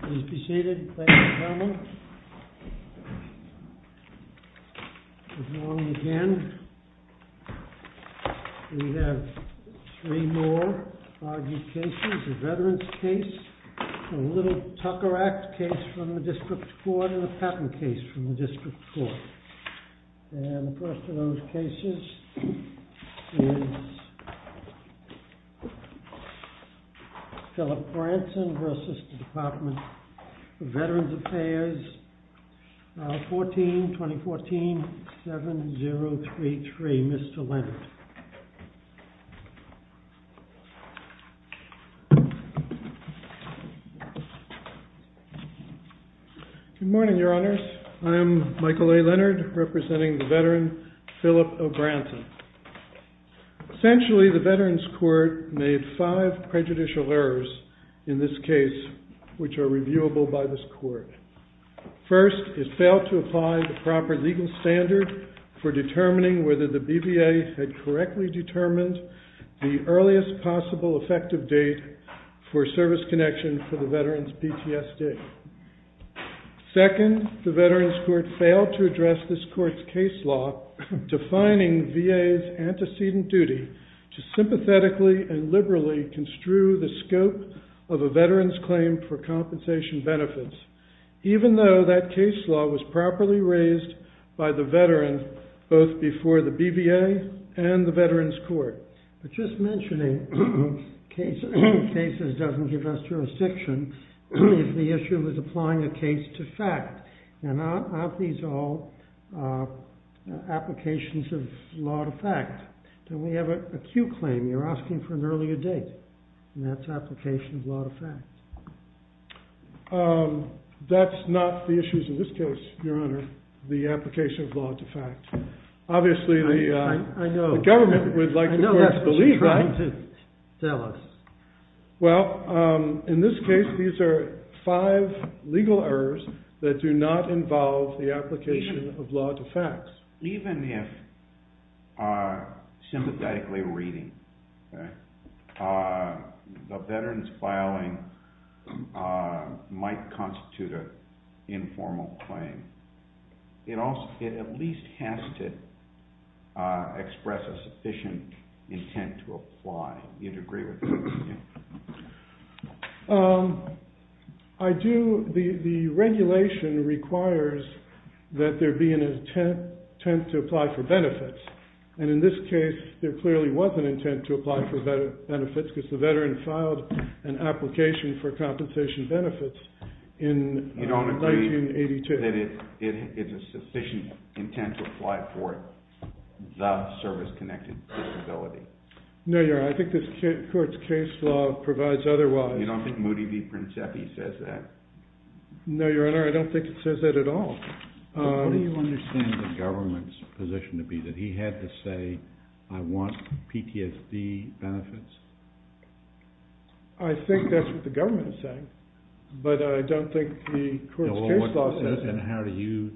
Please be seated. Thank you, gentlemen. Good morning again. We have three more argued cases. A Veterans case, a Little Tucker Act case from the District Court, and a Patent case from the District Court. And the first of those cases is Phillip Branson v. Department of Veterans Affairs, File 14-2014-7033. Mr. Leonard. Good morning, Your Honors. I am Michael A. Leonard, representing the veteran Phillip O. Branson. Essentially, the Veterans Court made five prejudicial errors in this case, which are reviewable by this court. First, it failed to apply the proper legal standard for determining whether the BVA had correctly determined the earliest possible effective date for service connection for the veteran's PTSD. Second, the Veterans Court failed to address this court's case law, defining VA's antecedent duty to sympathetically and liberally construe the scope of a veteran's claim for compensation benefits, even though that case law was properly raised by the veteran both before the BVA and the Veterans Court. But just mentioning cases doesn't give us jurisdiction if the issue is applying a case to fact. Now, aren't these all applications of law to fact? We have a Q claim, you're asking for an earlier date, and that's application of law to fact. That's not the issues in this case, Your Honor, the application of law to fact. Obviously, the government would like the courts to believe that. I know that's what you're trying to tell us. Well, in this case, these are five legal errors that do not involve the application of law to facts. Even if sympathetically reading, the veteran's filing might constitute an informal claim. It at least has to express a sufficient intent to apply. Do you agree with that? I do. The regulation requires that there be an intent to apply for benefits, and in this case, there clearly was an intent to apply for benefits because the veteran filed an application for compensation benefits in 1982. You don't agree that it is a sufficient intent to apply for it, the service-connected disability? No, Your Honor, I think this court's case law provides otherwise. You don't think Moody v. Princeffi says that? No, Your Honor, I don't think it says that at all. What do you understand the government's position to be, that he had to say, I want PTSD benefits? I think that's what the government is saying, but I don't think the court's case law says that. And how do you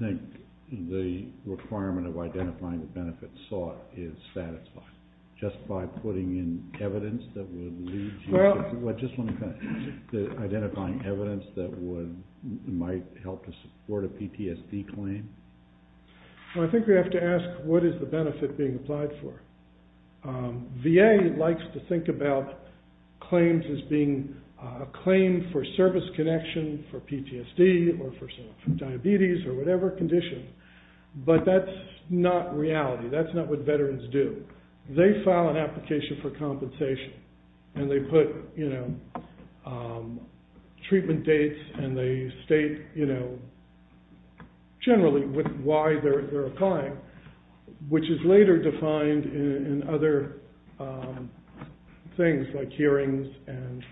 think the requirement of identifying the benefit sought is satisfied? Just by putting in evidence that would lead to... Just identifying evidence that might help to support a PTSD claim? I think we have to ask, what is the benefit being applied for? VA likes to think about claims as being a claim for service connection for PTSD or for diabetes or whatever condition, but that's not reality. That's not what veterans do. They file an application for compensation and they put treatment dates and they state generally why they're applying, which is later defined in other things like hearings and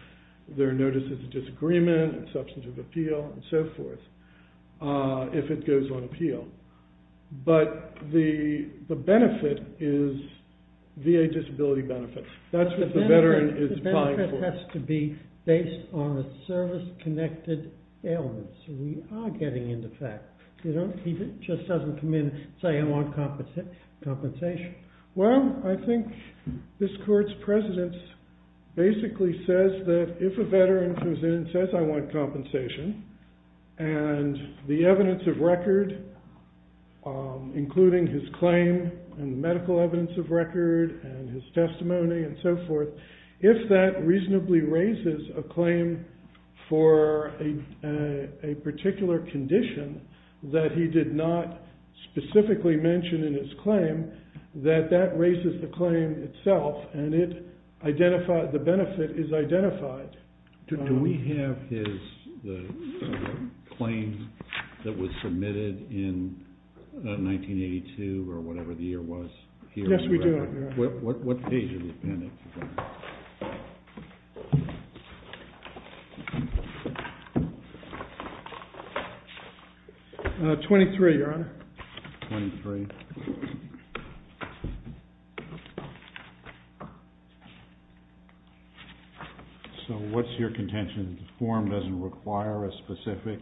their notices of disagreement and substantive appeal and so forth, if it goes on appeal. But the benefit is VA disability benefits. That's what the veteran is applying for. The benefit has to be based on a service-connected ailment, so we are getting into that. He just doesn't come in and say, I want compensation. Well, I think this court's precedence basically says that if a veteran comes in and says, I want compensation, and the evidence of record, including his claim and medical evidence of record and his testimony and so forth, if that reasonably raises a claim for a particular condition that he did not specifically mention in his claim, that that raises the claim itself and the benefit is identified. Do we have his claim that was submitted in 1982 or whatever the year was? Yes, we do. What page of the appendix is that? 23, Your Honor. 23. So what's your contention? The form doesn't require a specific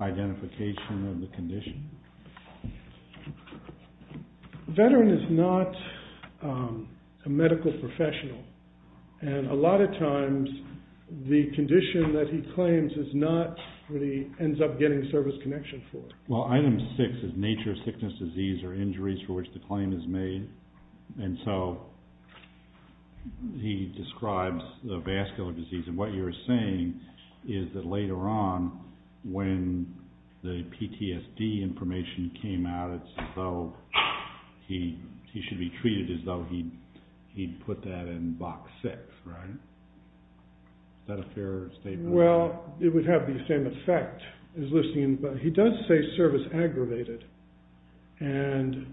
identification of the condition? A veteran is not a medical professional, and a lot of times the condition that he claims is not what he ends up getting service connection for. Well, item six is nature of sickness, disease, or injuries for which the claim is made. And so he describes the vascular disease, and what you're saying is that later on when the PTSD information came out, it's as though he should be treated as though he'd put that in box six, right? Is that a fair statement? Well, it would have the same effect. He does say service aggravated, and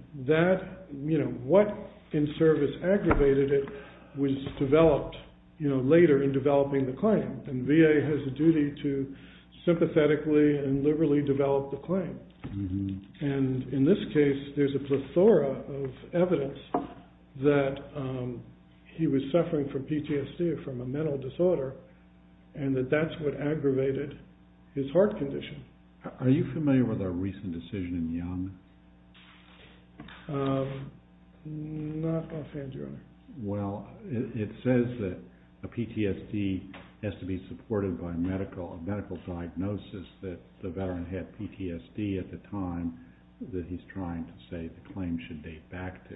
what in service aggravated it was developed later in developing the claim, and VA has a duty to sympathetically and liberally develop the claim. And in this case, there's a plethora of evidence that he was suffering from PTSD or from a mental disorder, and that that's what aggravated his heart condition. Are you familiar with our recent decision in Young? Not offhand, Your Honor. Well, it says that a PTSD has to be supported by a medical diagnosis that the veteran had PTSD at the time that he's trying to say the claim should date back to.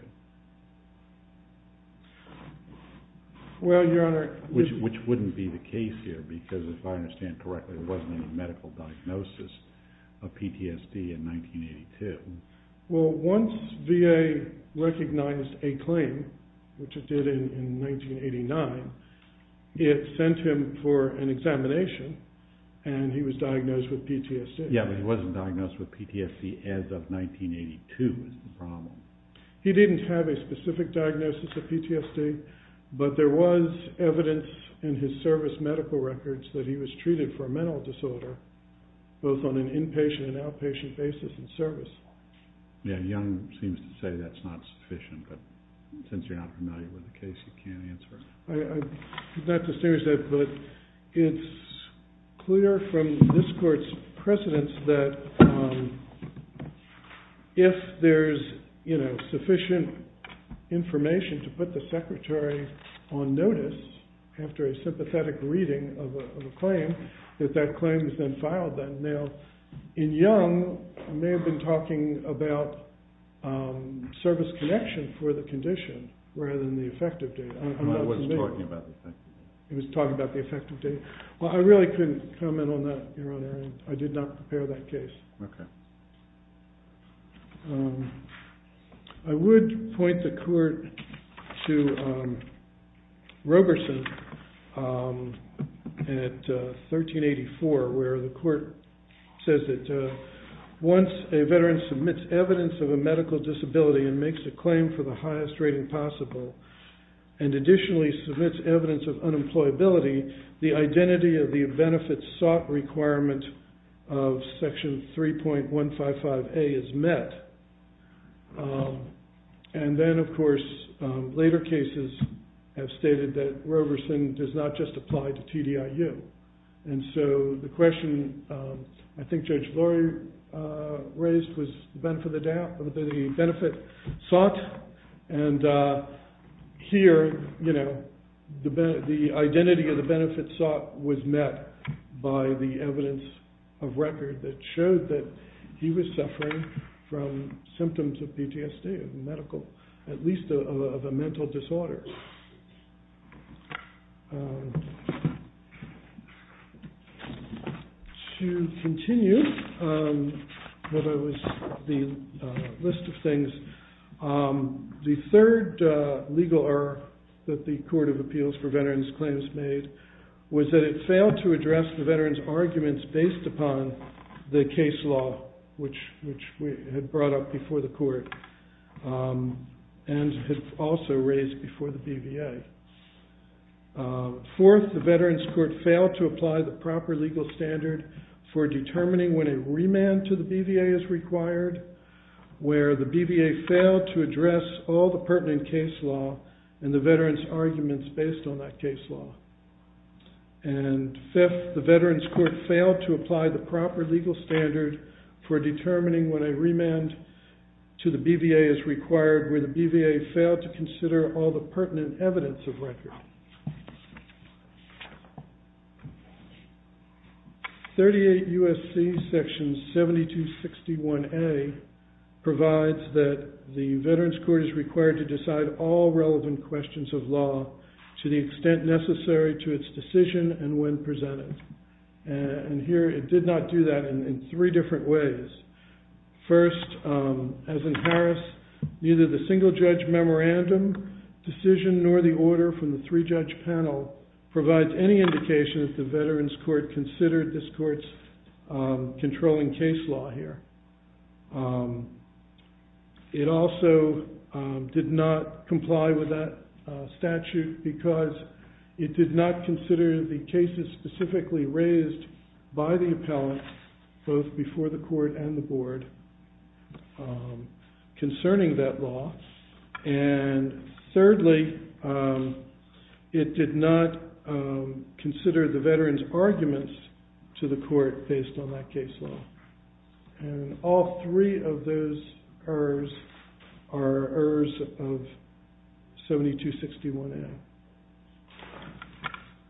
Well, Your Honor. Which wouldn't be the case here, because if I understand correctly, there wasn't any medical diagnosis of PTSD in 1982. Well, once VA recognized a claim, which it did in 1989, it sent him for an examination, and he was diagnosed with PTSD. Yeah, but he wasn't diagnosed with PTSD as of 1982 is the problem. He didn't have a specific diagnosis of PTSD, but there was evidence in his service medical records that he was treated for a mental disorder, both on an inpatient and outpatient basis in service. Yeah, Young seems to say that's not sufficient, but since you're not familiar with the case, you can't answer it. I'm not too serious, but it's clear from this court's precedence that if there's sufficient information to put the secretary on notice after a sympathetic reading of a claim, that that claim has been filed then. Now, in Young, I may have been talking about service connection for the condition rather than the effective date. I'm not convinced. He was talking about the effective date. Well, I really couldn't comment on that, Your Honor. I did not prepare that case. I would point the court to Roberson at 1384 where the court says that once a veteran submits evidence of a medical disability and makes a claim for the highest rating possible and additionally submits evidence of unemployability, the identity of the benefit sought requirement of section 3.155A is met. And then, of course, later cases have stated that Roberson does not just apply to TDIU. And so the question I think Judge Lori raised was the benefit sought. And here, the identity of the benefit sought was met by the evidence of record that showed that he was suffering from symptoms of PTSD, at least of a mental disorder. So to continue what was the list of things, the third legal error that the Court of Appeals for Veterans claims made was that it failed to address the veterans' arguments based upon the case law, which we had brought up before the court and had also raised before the BVA. Fourth, the Veterans Court failed to apply the proper legal standard for determining when a remand to the BVA is required, where the BVA failed to address all the pertinent case law and the veterans' arguments based on that case law. And fifth, the Veterans Court failed to apply the proper legal standard for determining when a remand to the BVA is required, where the BVA failed to consider all the pertinent evidence of record. 38 U.S.C. Section 7261A provides that the Veterans Court is required to decide all relevant questions of law to the extent necessary to its decision and when presented. And here, it did not do that in three different ways. First, as in Paris, neither the single-judge memorandum decision nor the order from the three-judge panel provides any indication that the Veterans Court considered this court's controlling case law here. It also did not comply with that statute because it did not consider the cases specifically raised by the appellant both before the court and the board concerning that law. And thirdly, it did not consider the veterans' arguments to the court based on that case law. And all three of those errors are errors of 7261A.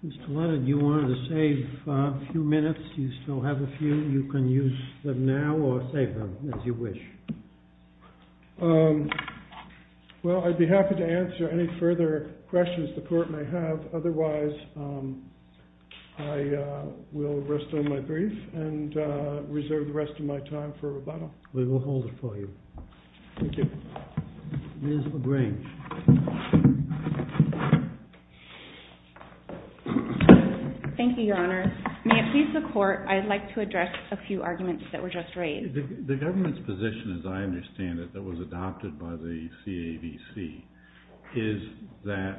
Mr. Leonard, you wanted to save a few minutes. You still have a few. You can use them now or save them as you wish. Well, I'd be happy to answer any further questions the court may have. Otherwise, I will rest on my brief and reserve the rest of my time for rebuttal. We will hold it for you. Thank you. Ms. LaGrange. Thank you, Your Honor. May it please the court, I'd like to address a few arguments that were just raised. The government's position, as I understand it, that was adopted by the CAVC is that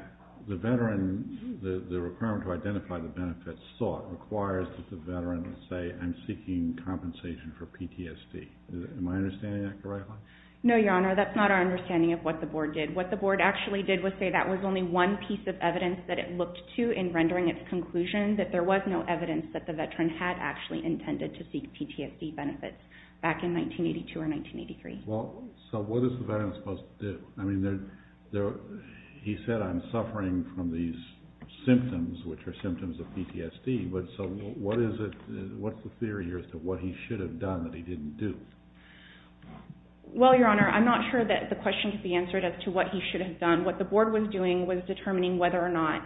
the veteran, the requirement to identify the benefits sought requires that the veteran say, I'm seeking compensation for PTSD. Am I understanding that correctly? No, Your Honor. That's not our understanding of what the board did. What the board actually did was say that was only one piece of evidence that it looked to in rendering its conclusion that there was no evidence that the veteran had actually intended to seek PTSD benefits back in 1982 or 1983. Well, so what is the veteran supposed to do? I mean, he said, I'm suffering from these symptoms, which are symptoms of PTSD. So what's the theory as to what he should have done that he didn't do? Well, Your Honor, I'm not sure that the question could be answered as to what he should have done. What the board was doing was determining whether or not,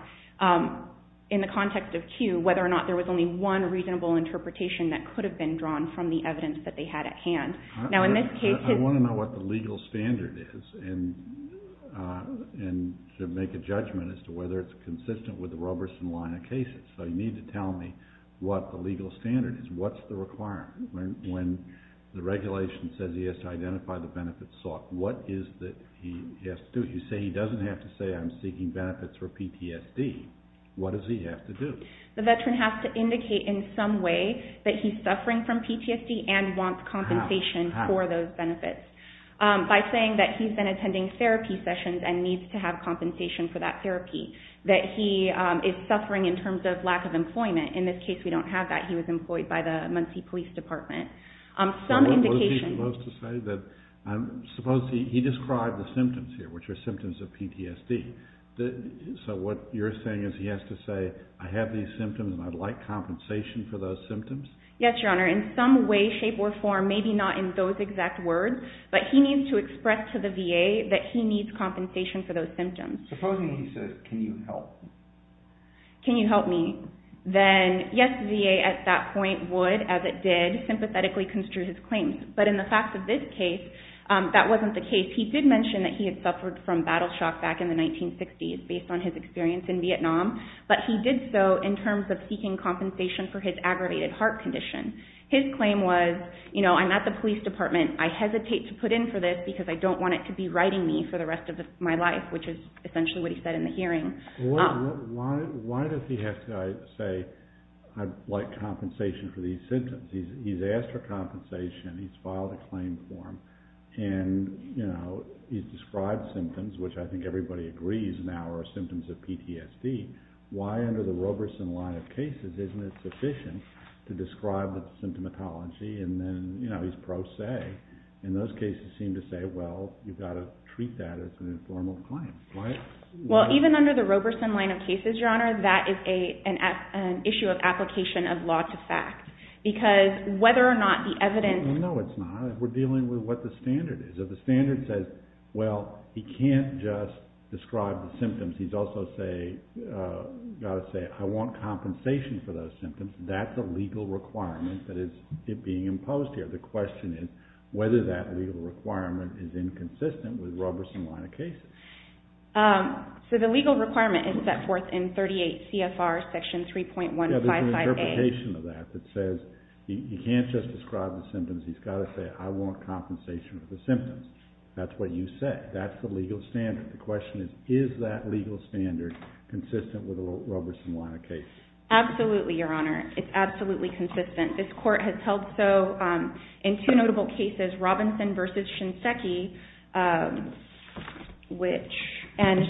in the context of Q, whether or not there was only one reasonable interpretation that could have been drawn from the evidence that they had at hand. Now, in this case... I want to know what the legal standard is and to make a judgment as to whether it's consistent with the Roberson line of cases. So you need to tell me what the legal standard is. What's the requirement? When the regulation says he has to identify the benefits sought, what is it that he has to do? You say he doesn't have to say, I'm seeking benefits for PTSD. What does he have to do? The veteran has to indicate in some way that he's suffering from PTSD and wants compensation for those benefits. By saying that he's been attending therapy sessions and needs to have compensation for that therapy, that he is suffering in terms of lack of employment. In this case, we don't have that. He was employed by the Muncie Police Department. Some indication... What is he supposed to say? He described the symptoms here, which are symptoms of PTSD. So what you're saying is he has to say, I have these symptoms and I'd like compensation for those symptoms? Yes, Your Honor. In some way, shape, or form, maybe not in those exact words, but he needs to express to the VA that he needs compensation for those symptoms. Supposing he says, can you help me? Can you help me? Then, yes, the VA at that point would, as it did, sympathetically construe his claims. But in the fact of this case, that wasn't the case. He did mention that he had suffered from battle shock back in the 1960s, based on his experience in Vietnam. But he did so in terms of seeking compensation for his aggravated heart condition. His claim was, you know, I'm at the police department. I hesitate to put in for this because I don't want it to be writing me for the rest of my life, which is essentially what he said in the hearing. Why does he have to say, I'd like compensation for these symptoms? He's asked for compensation. He's filed a claim form. And, you know, he's described symptoms, which I think everybody agrees now are symptoms of PTSD. Why under the Roberson line of cases isn't it sufficient to describe the symptomatology? And then, you know, he's pro se. And those cases seem to say, well, you've got to treat that as an informal claim. Well, even under the Roberson line of cases, Your Honor, that is an issue of application of law to fact because whether or not the evidence... No, it's not. We're dealing with what the standard is. If the standard says, well, he can't just describe the symptoms. He's also got to say, I want compensation for those symptoms. That's a legal requirement that is being imposed here. The question is whether that legal requirement is inconsistent with Roberson line of cases. So the legal requirement is set forth in 38 CFR section 3.155A. There's an application of that that says you can't just describe the symptoms. He's got to say, I want compensation for the symptoms. That's what you say. That's the legal standard. The question is, is that legal standard consistent with a Roberson line of cases? Absolutely, Your Honor. It's absolutely consistent. This court has held so in two notable cases, Robinson v. Shinseki, and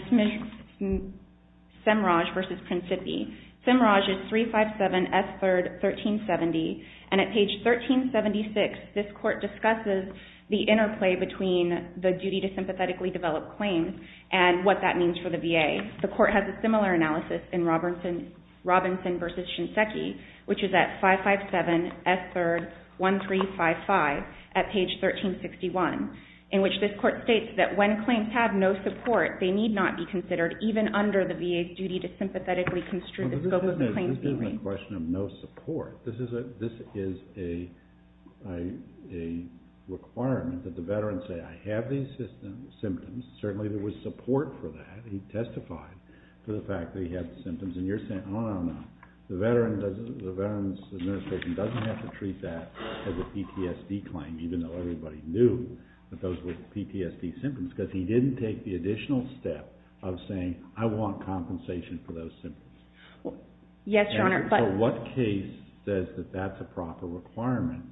Semraj v. Principi. Semraj is 357 S. 3rd, 1370. And at page 1376, this court discusses the interplay between the duty to sympathetically develop claims and what that means for the VA. The court has a similar analysis in Robinson v. Shinseki, which is at 557 S. 3rd, 1355 at page 1361, in which this court states that when claims have no support, they need not be considered even under the VA's duty to sympathetically construe the scope of the claims being made. This isn't a question of no support. This is a requirement that the veterans say, I have these symptoms. Certainly there was support for that. He testified to the fact that he had the symptoms. And you're saying, no, no, no. The Veterans Administration doesn't have to treat that as a PTSD claim, even though everybody knew that those were PTSD symptoms, because he didn't take the additional step of saying, I want compensation for those symptoms. Yes, Your Honor. But what case says that that's a proper requirement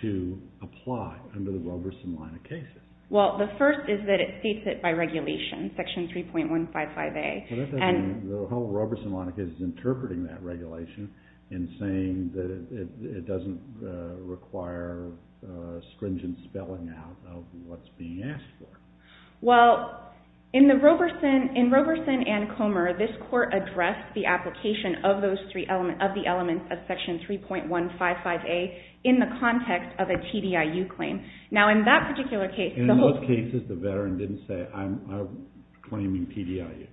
to apply under the Roberson line of cases? Well, the first is that it states it by regulation, Section 3.155A. Well, that doesn't mean the whole Roberson line of cases is interpreting that regulation and saying that it doesn't require stringent spelling out of what's being asked for. Well, in Roberson and Comer, this court addressed the application of those three elements, of the elements of Section 3.155A, in the context of a TDIU claim. Now, in that particular case... And in those cases, the veteran didn't say, I'm claiming TDIU.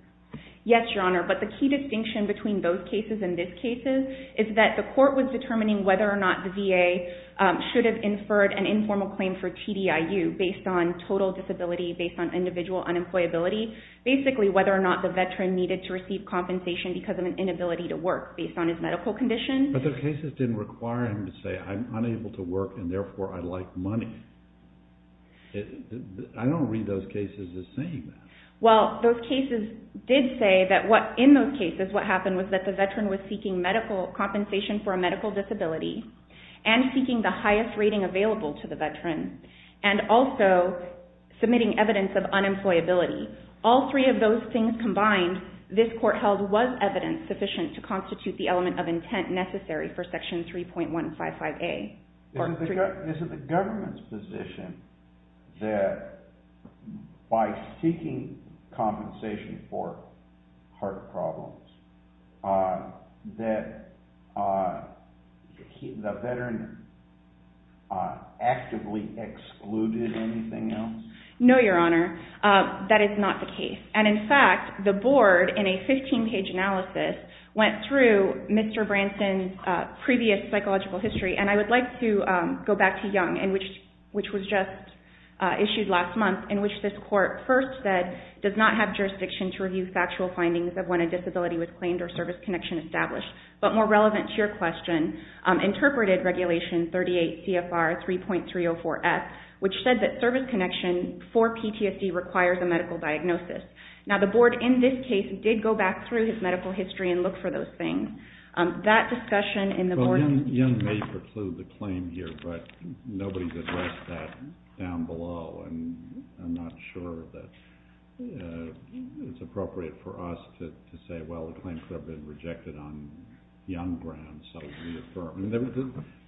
Yes, Your Honor. But the key distinction between those cases and this case is that the court was determining whether or not the VA should have inferred an informal claim for TDIU based on total disability, based on individual unemployability. Basically, whether or not the veteran needed to receive compensation because of an inability to work, based on his medical condition. But the cases didn't require him to say, I'm unable to work and therefore I like money. I don't read those cases as saying that. Well, those cases did say that in those cases, what happened was that the veteran was seeking medical compensation for a medical disability and seeking the highest rating available to the veteran. And also submitting evidence of unemployability. All three of those things combined, this court held was evidence sufficient to constitute the element of intent necessary for Section 3.155A. Isn't the government's position that by seeking compensation for heart problems, that the veteran actively excluded anything else? No, Your Honor. That is not the case. And in fact, the board in a 15-page analysis went through Mr. Branson's previous psychological history. And I would like to go back to Young, which was just issued last month, in which this court first said, does not have jurisdiction to review factual findings of when a disability was claimed or service connection established. But more relevant to your question, interpreted Regulation 38 CFR 3.304S, which said that service connection for PTSD requires a medical diagnosis. Now the board in this case did go back through his medical history and look for those things. That discussion in the board... Young may preclude the claim here, but nobody's addressed that down below. And I'm not sure that it's appropriate for us to say, well, the claim could have been rejected on Young grounds, so reaffirm.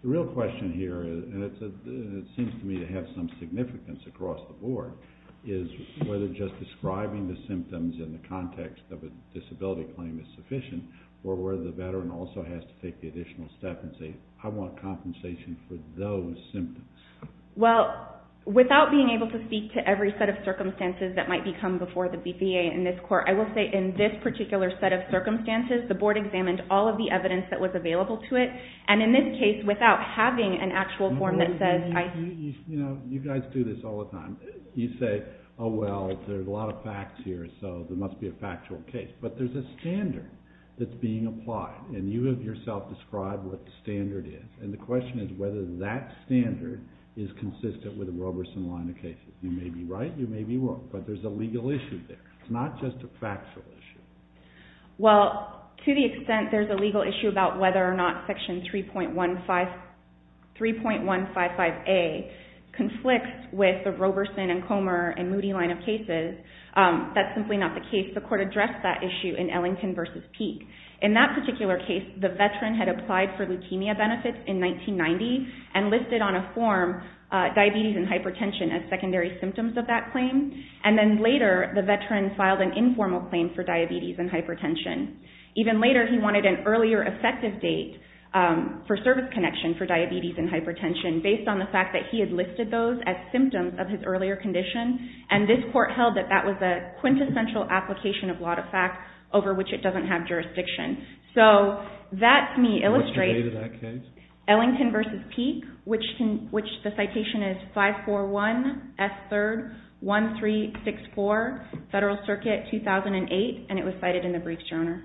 The real question here, and it seems to me to have some significance across the board, is whether just describing the symptoms in the context of a disability claim is sufficient, or whether the veteran also has to take the additional step and say, I want compensation for those symptoms. Well, without being able to speak to every set of circumstances that might become before the BPA in this court, I will say in this particular set of circumstances, the board examined all of the evidence that was available to it, and in this case, without having an actual form that says... You know, you guys do this all the time. You say, oh, well, there's a lot of facts here, so there must be a factual case. But there's a standard that's being applied, and you have yourself described what the standard is. And the question is whether that standard is consistent with the Roberson line of cases. You may be right, you may be wrong, but there's a legal issue there. It's not just a factual issue. Well, to the extent there's a legal issue about whether or not Section 3.155A conflicts with the Roberson and Comer and Moody line of cases, that's simply not the case. The court addressed that issue in Ellington v. Peake. In that particular case, the veteran had applied for leukemia benefits in 1990 and listed on a form diabetes and hypertension as secondary symptoms of that claim. And then later, the veteran filed an informal claim for diabetes and hypertension. Even later, he wanted an earlier effective date for service connection for diabetes and hypertension based on the fact that he had listed those as symptoms of his earlier condition, and this court held that that was a quintessential application of law to fact over which it doesn't have jurisdiction. So that, to me, illustrates Ellington v. Peake, which the citation is 541S31364, Federal Circuit, 2008, and it was cited in the briefs, Your Honor.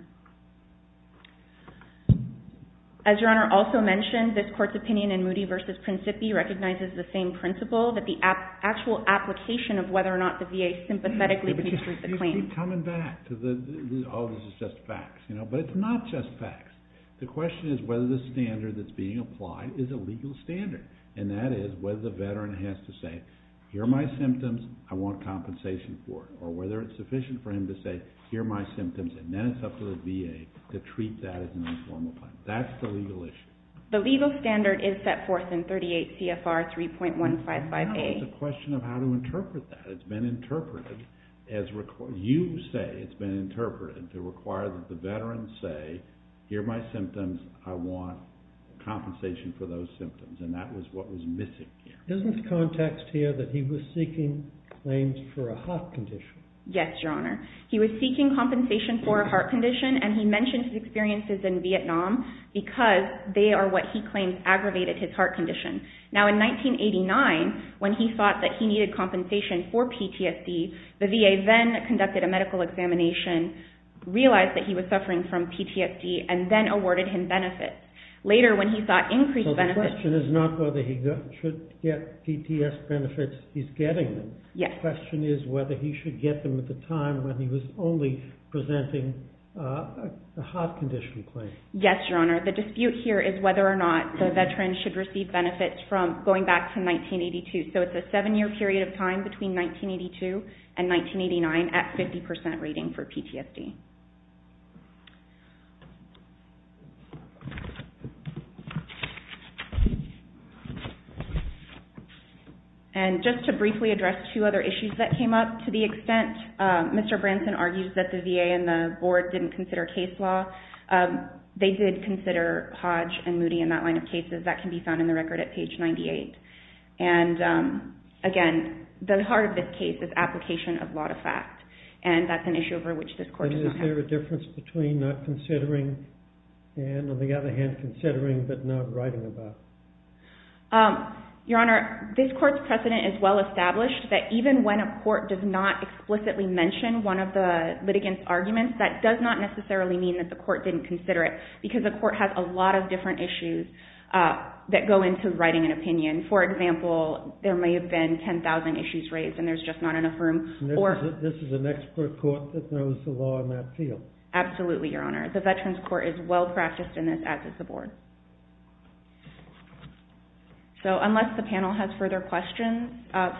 As Your Honor also mentioned, this court's opinion in Moody v. Principi recognizes the same principle that the actual application of whether or not the VA sympathetically contributes to the claim. We keep coming back to, oh, this is just facts, but it's not just facts. The question is whether the standard that's being applied is a legal standard, and that is whether the veteran has to say, here are my symptoms, I want compensation for it, or whether it's sufficient for him to say, here are my symptoms, and then it's up to the VA to treat that as an informal claim. That's the legal issue. The legal standard is set forth in 38 CFR 3.155A. No, it's a question of how to interpret that. It's been interpreted, you say it's been interpreted to require that the veteran say, here are my symptoms, I want compensation for those symptoms, and that was what was missing here. Isn't the context here that he was seeking claims for a heart condition? Yes, Your Honor. He was seeking compensation for a heart condition, and he mentioned his experiences in Vietnam because they are what he claimed aggravated his heart condition. Now, in 1989, when he thought that he needed compensation for PTSD, the VA then conducted a medical examination, realized that he was suffering from PTSD, and then awarded him benefits. Later, when he thought increased benefits... So the question is not whether he should get PTSD benefits, he's getting them. Yes. The question is whether he should get them at the time when he was only presenting a heart condition claim. Yes, Your Honor. The dispute here is whether or not the veteran should receive benefits from going back to 1982. So it's a seven-year period of time between 1982 and 1989 at 50% rating for PTSD. And just to briefly address two other issues that came up, to the extent Mr. Branson argues that the VA and the Board didn't consider case law, they did consider Hodge and Moody and that line of cases. That can be found in the record at page 98. And again, the heart of this case is application of law to fact, and that's an issue over which this Court does not have... And is there a difference between not considering and, on the other hand, considering but not writing about? Your Honor, this Court's precedent is well established that even when a court does not explicitly mention one of the litigants' arguments, that does not necessarily mean that the Court didn't consider it because the Court has a lot of different issues that go into writing an opinion. For example, there may have been 10,000 issues raised and there's just not enough room... This is an expert court that knows the law in that field. Absolutely, Your Honor. The Veterans Court is well-practiced in this as is the Board. So unless the panel has further questions,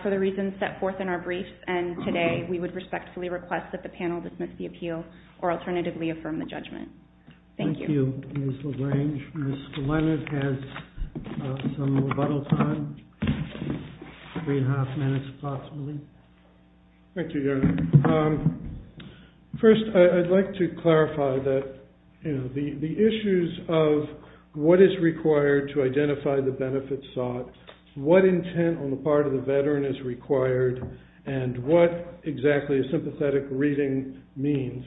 for the reasons set forth in our briefs and today, we would respectfully request that the panel dismiss the appeal or alternatively affirm the judgment. Thank you. Thank you, Ms. LaGrange. Mr. Leonard has some rebuttal time, three and a half minutes, possibly. Thank you, Your Honor. First, I'd like to clarify that the issues of what is required to identify the benefit sought, what intent on the part of the veteran is required, and what exactly a sympathetic reading means,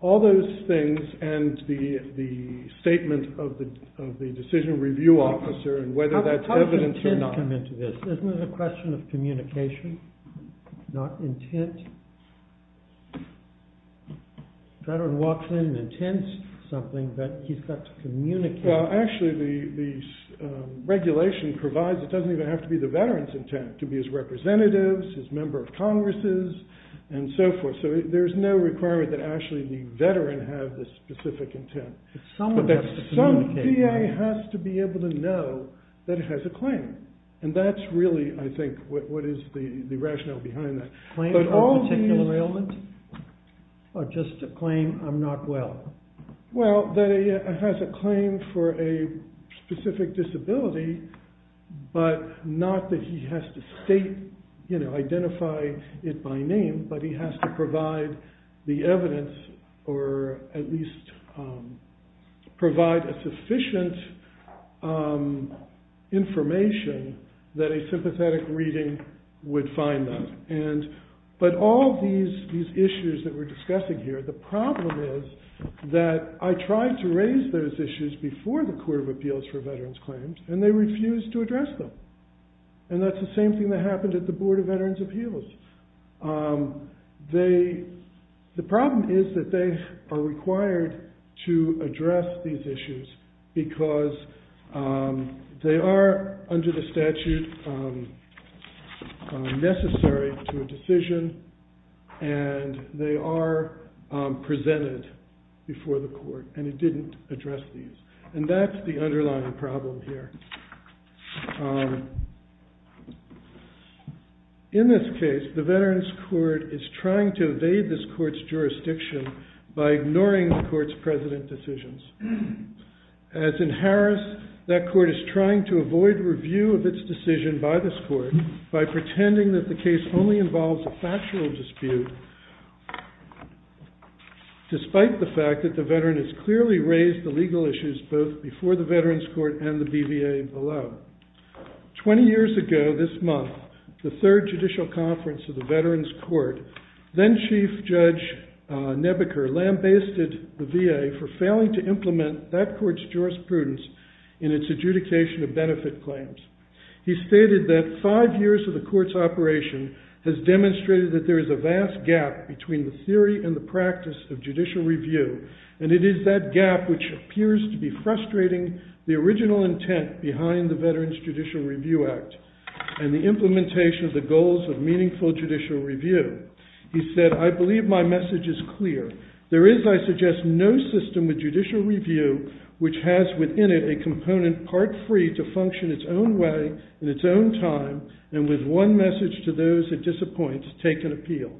all those things and the statement of the decision review officer and whether that's evidence or not. How does intent come into this? Isn't it a question of communication, not intent? A veteran walks in and intends something, but he's got to communicate. Well, actually, the regulation provides, it doesn't even have to be the veteran's intent, to be his representative, his member of Congress, and so forth. So there's no requirement that actually the veteran have the specific intent. Someone has to communicate. Some VA has to be able to know that it has a claim. And that's really, I think, what is the rationale behind that. Claim of a particular ailment? Or just a claim of not well? Well, that it has a claim for a specific disability, but not that he has to state, you know, identify it by name, but he has to provide the evidence, or at least provide a sufficient information that a sympathetic reading would find that. But all these issues that we're discussing here, the problem is that I tried to raise those issues before the Court of Appeals for Veterans Claims, and they refused to address them. And that's the same thing that happened at the Board of Veterans' Appeals. The problem is that they are required to address these issues because they are under the statute necessary to a decision, and they are presented before the court, and it didn't address these. And that's the underlying problem here. In this case, the Veterans Court is trying to evade this court's jurisdiction by ignoring the court's president decisions. As in Harris, that court is trying to avoid review of its decision by this court by pretending that the case only involves a factual dispute, despite the fact that the veteran has clearly raised the legal issues both before the Veterans Court and the BVA below. Twenty years ago this month, the third judicial conference of the Veterans Court, then Chief Judge Nebaker lambasted the VA for failing to implement that court's jurisprudence in its adjudication of benefit claims. He stated that five years of the court's operation has demonstrated that there is a vast gap between the theory and the practice of judicial review, and it is that gap which appears to be frustrating the original intent behind the Veterans Judicial Review Act and the implementation of the goals of meaningful judicial review. He said, I believe my message is clear. There is, I suggest, no system of judicial review which has within it a component part free to function its own way in its own time and with one message to those it disappoints, take an appeal.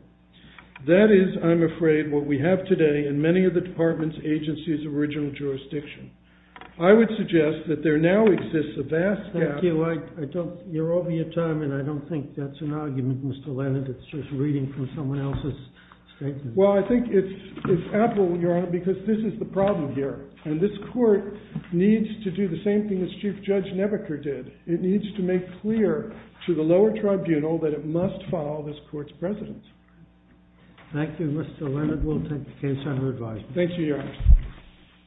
That is, I'm afraid, what we have today in many of the department's agencies' original jurisdiction. I would suggest that there now exists a vast gap... Thank you. You're over your time, and I don't think that's an argument, Mr. Leonard. It's just reading from someone else's statement. Well, I think it's apt, Your Honor, because this is the problem here, and this court needs to do the same thing as Chief Judge Nebaker did. It needs to make clear to the lower tribunal that it must follow this court's precedence. Thank you, Mr. Leonard. We'll take the case under advisement. Thank you, Your Honor.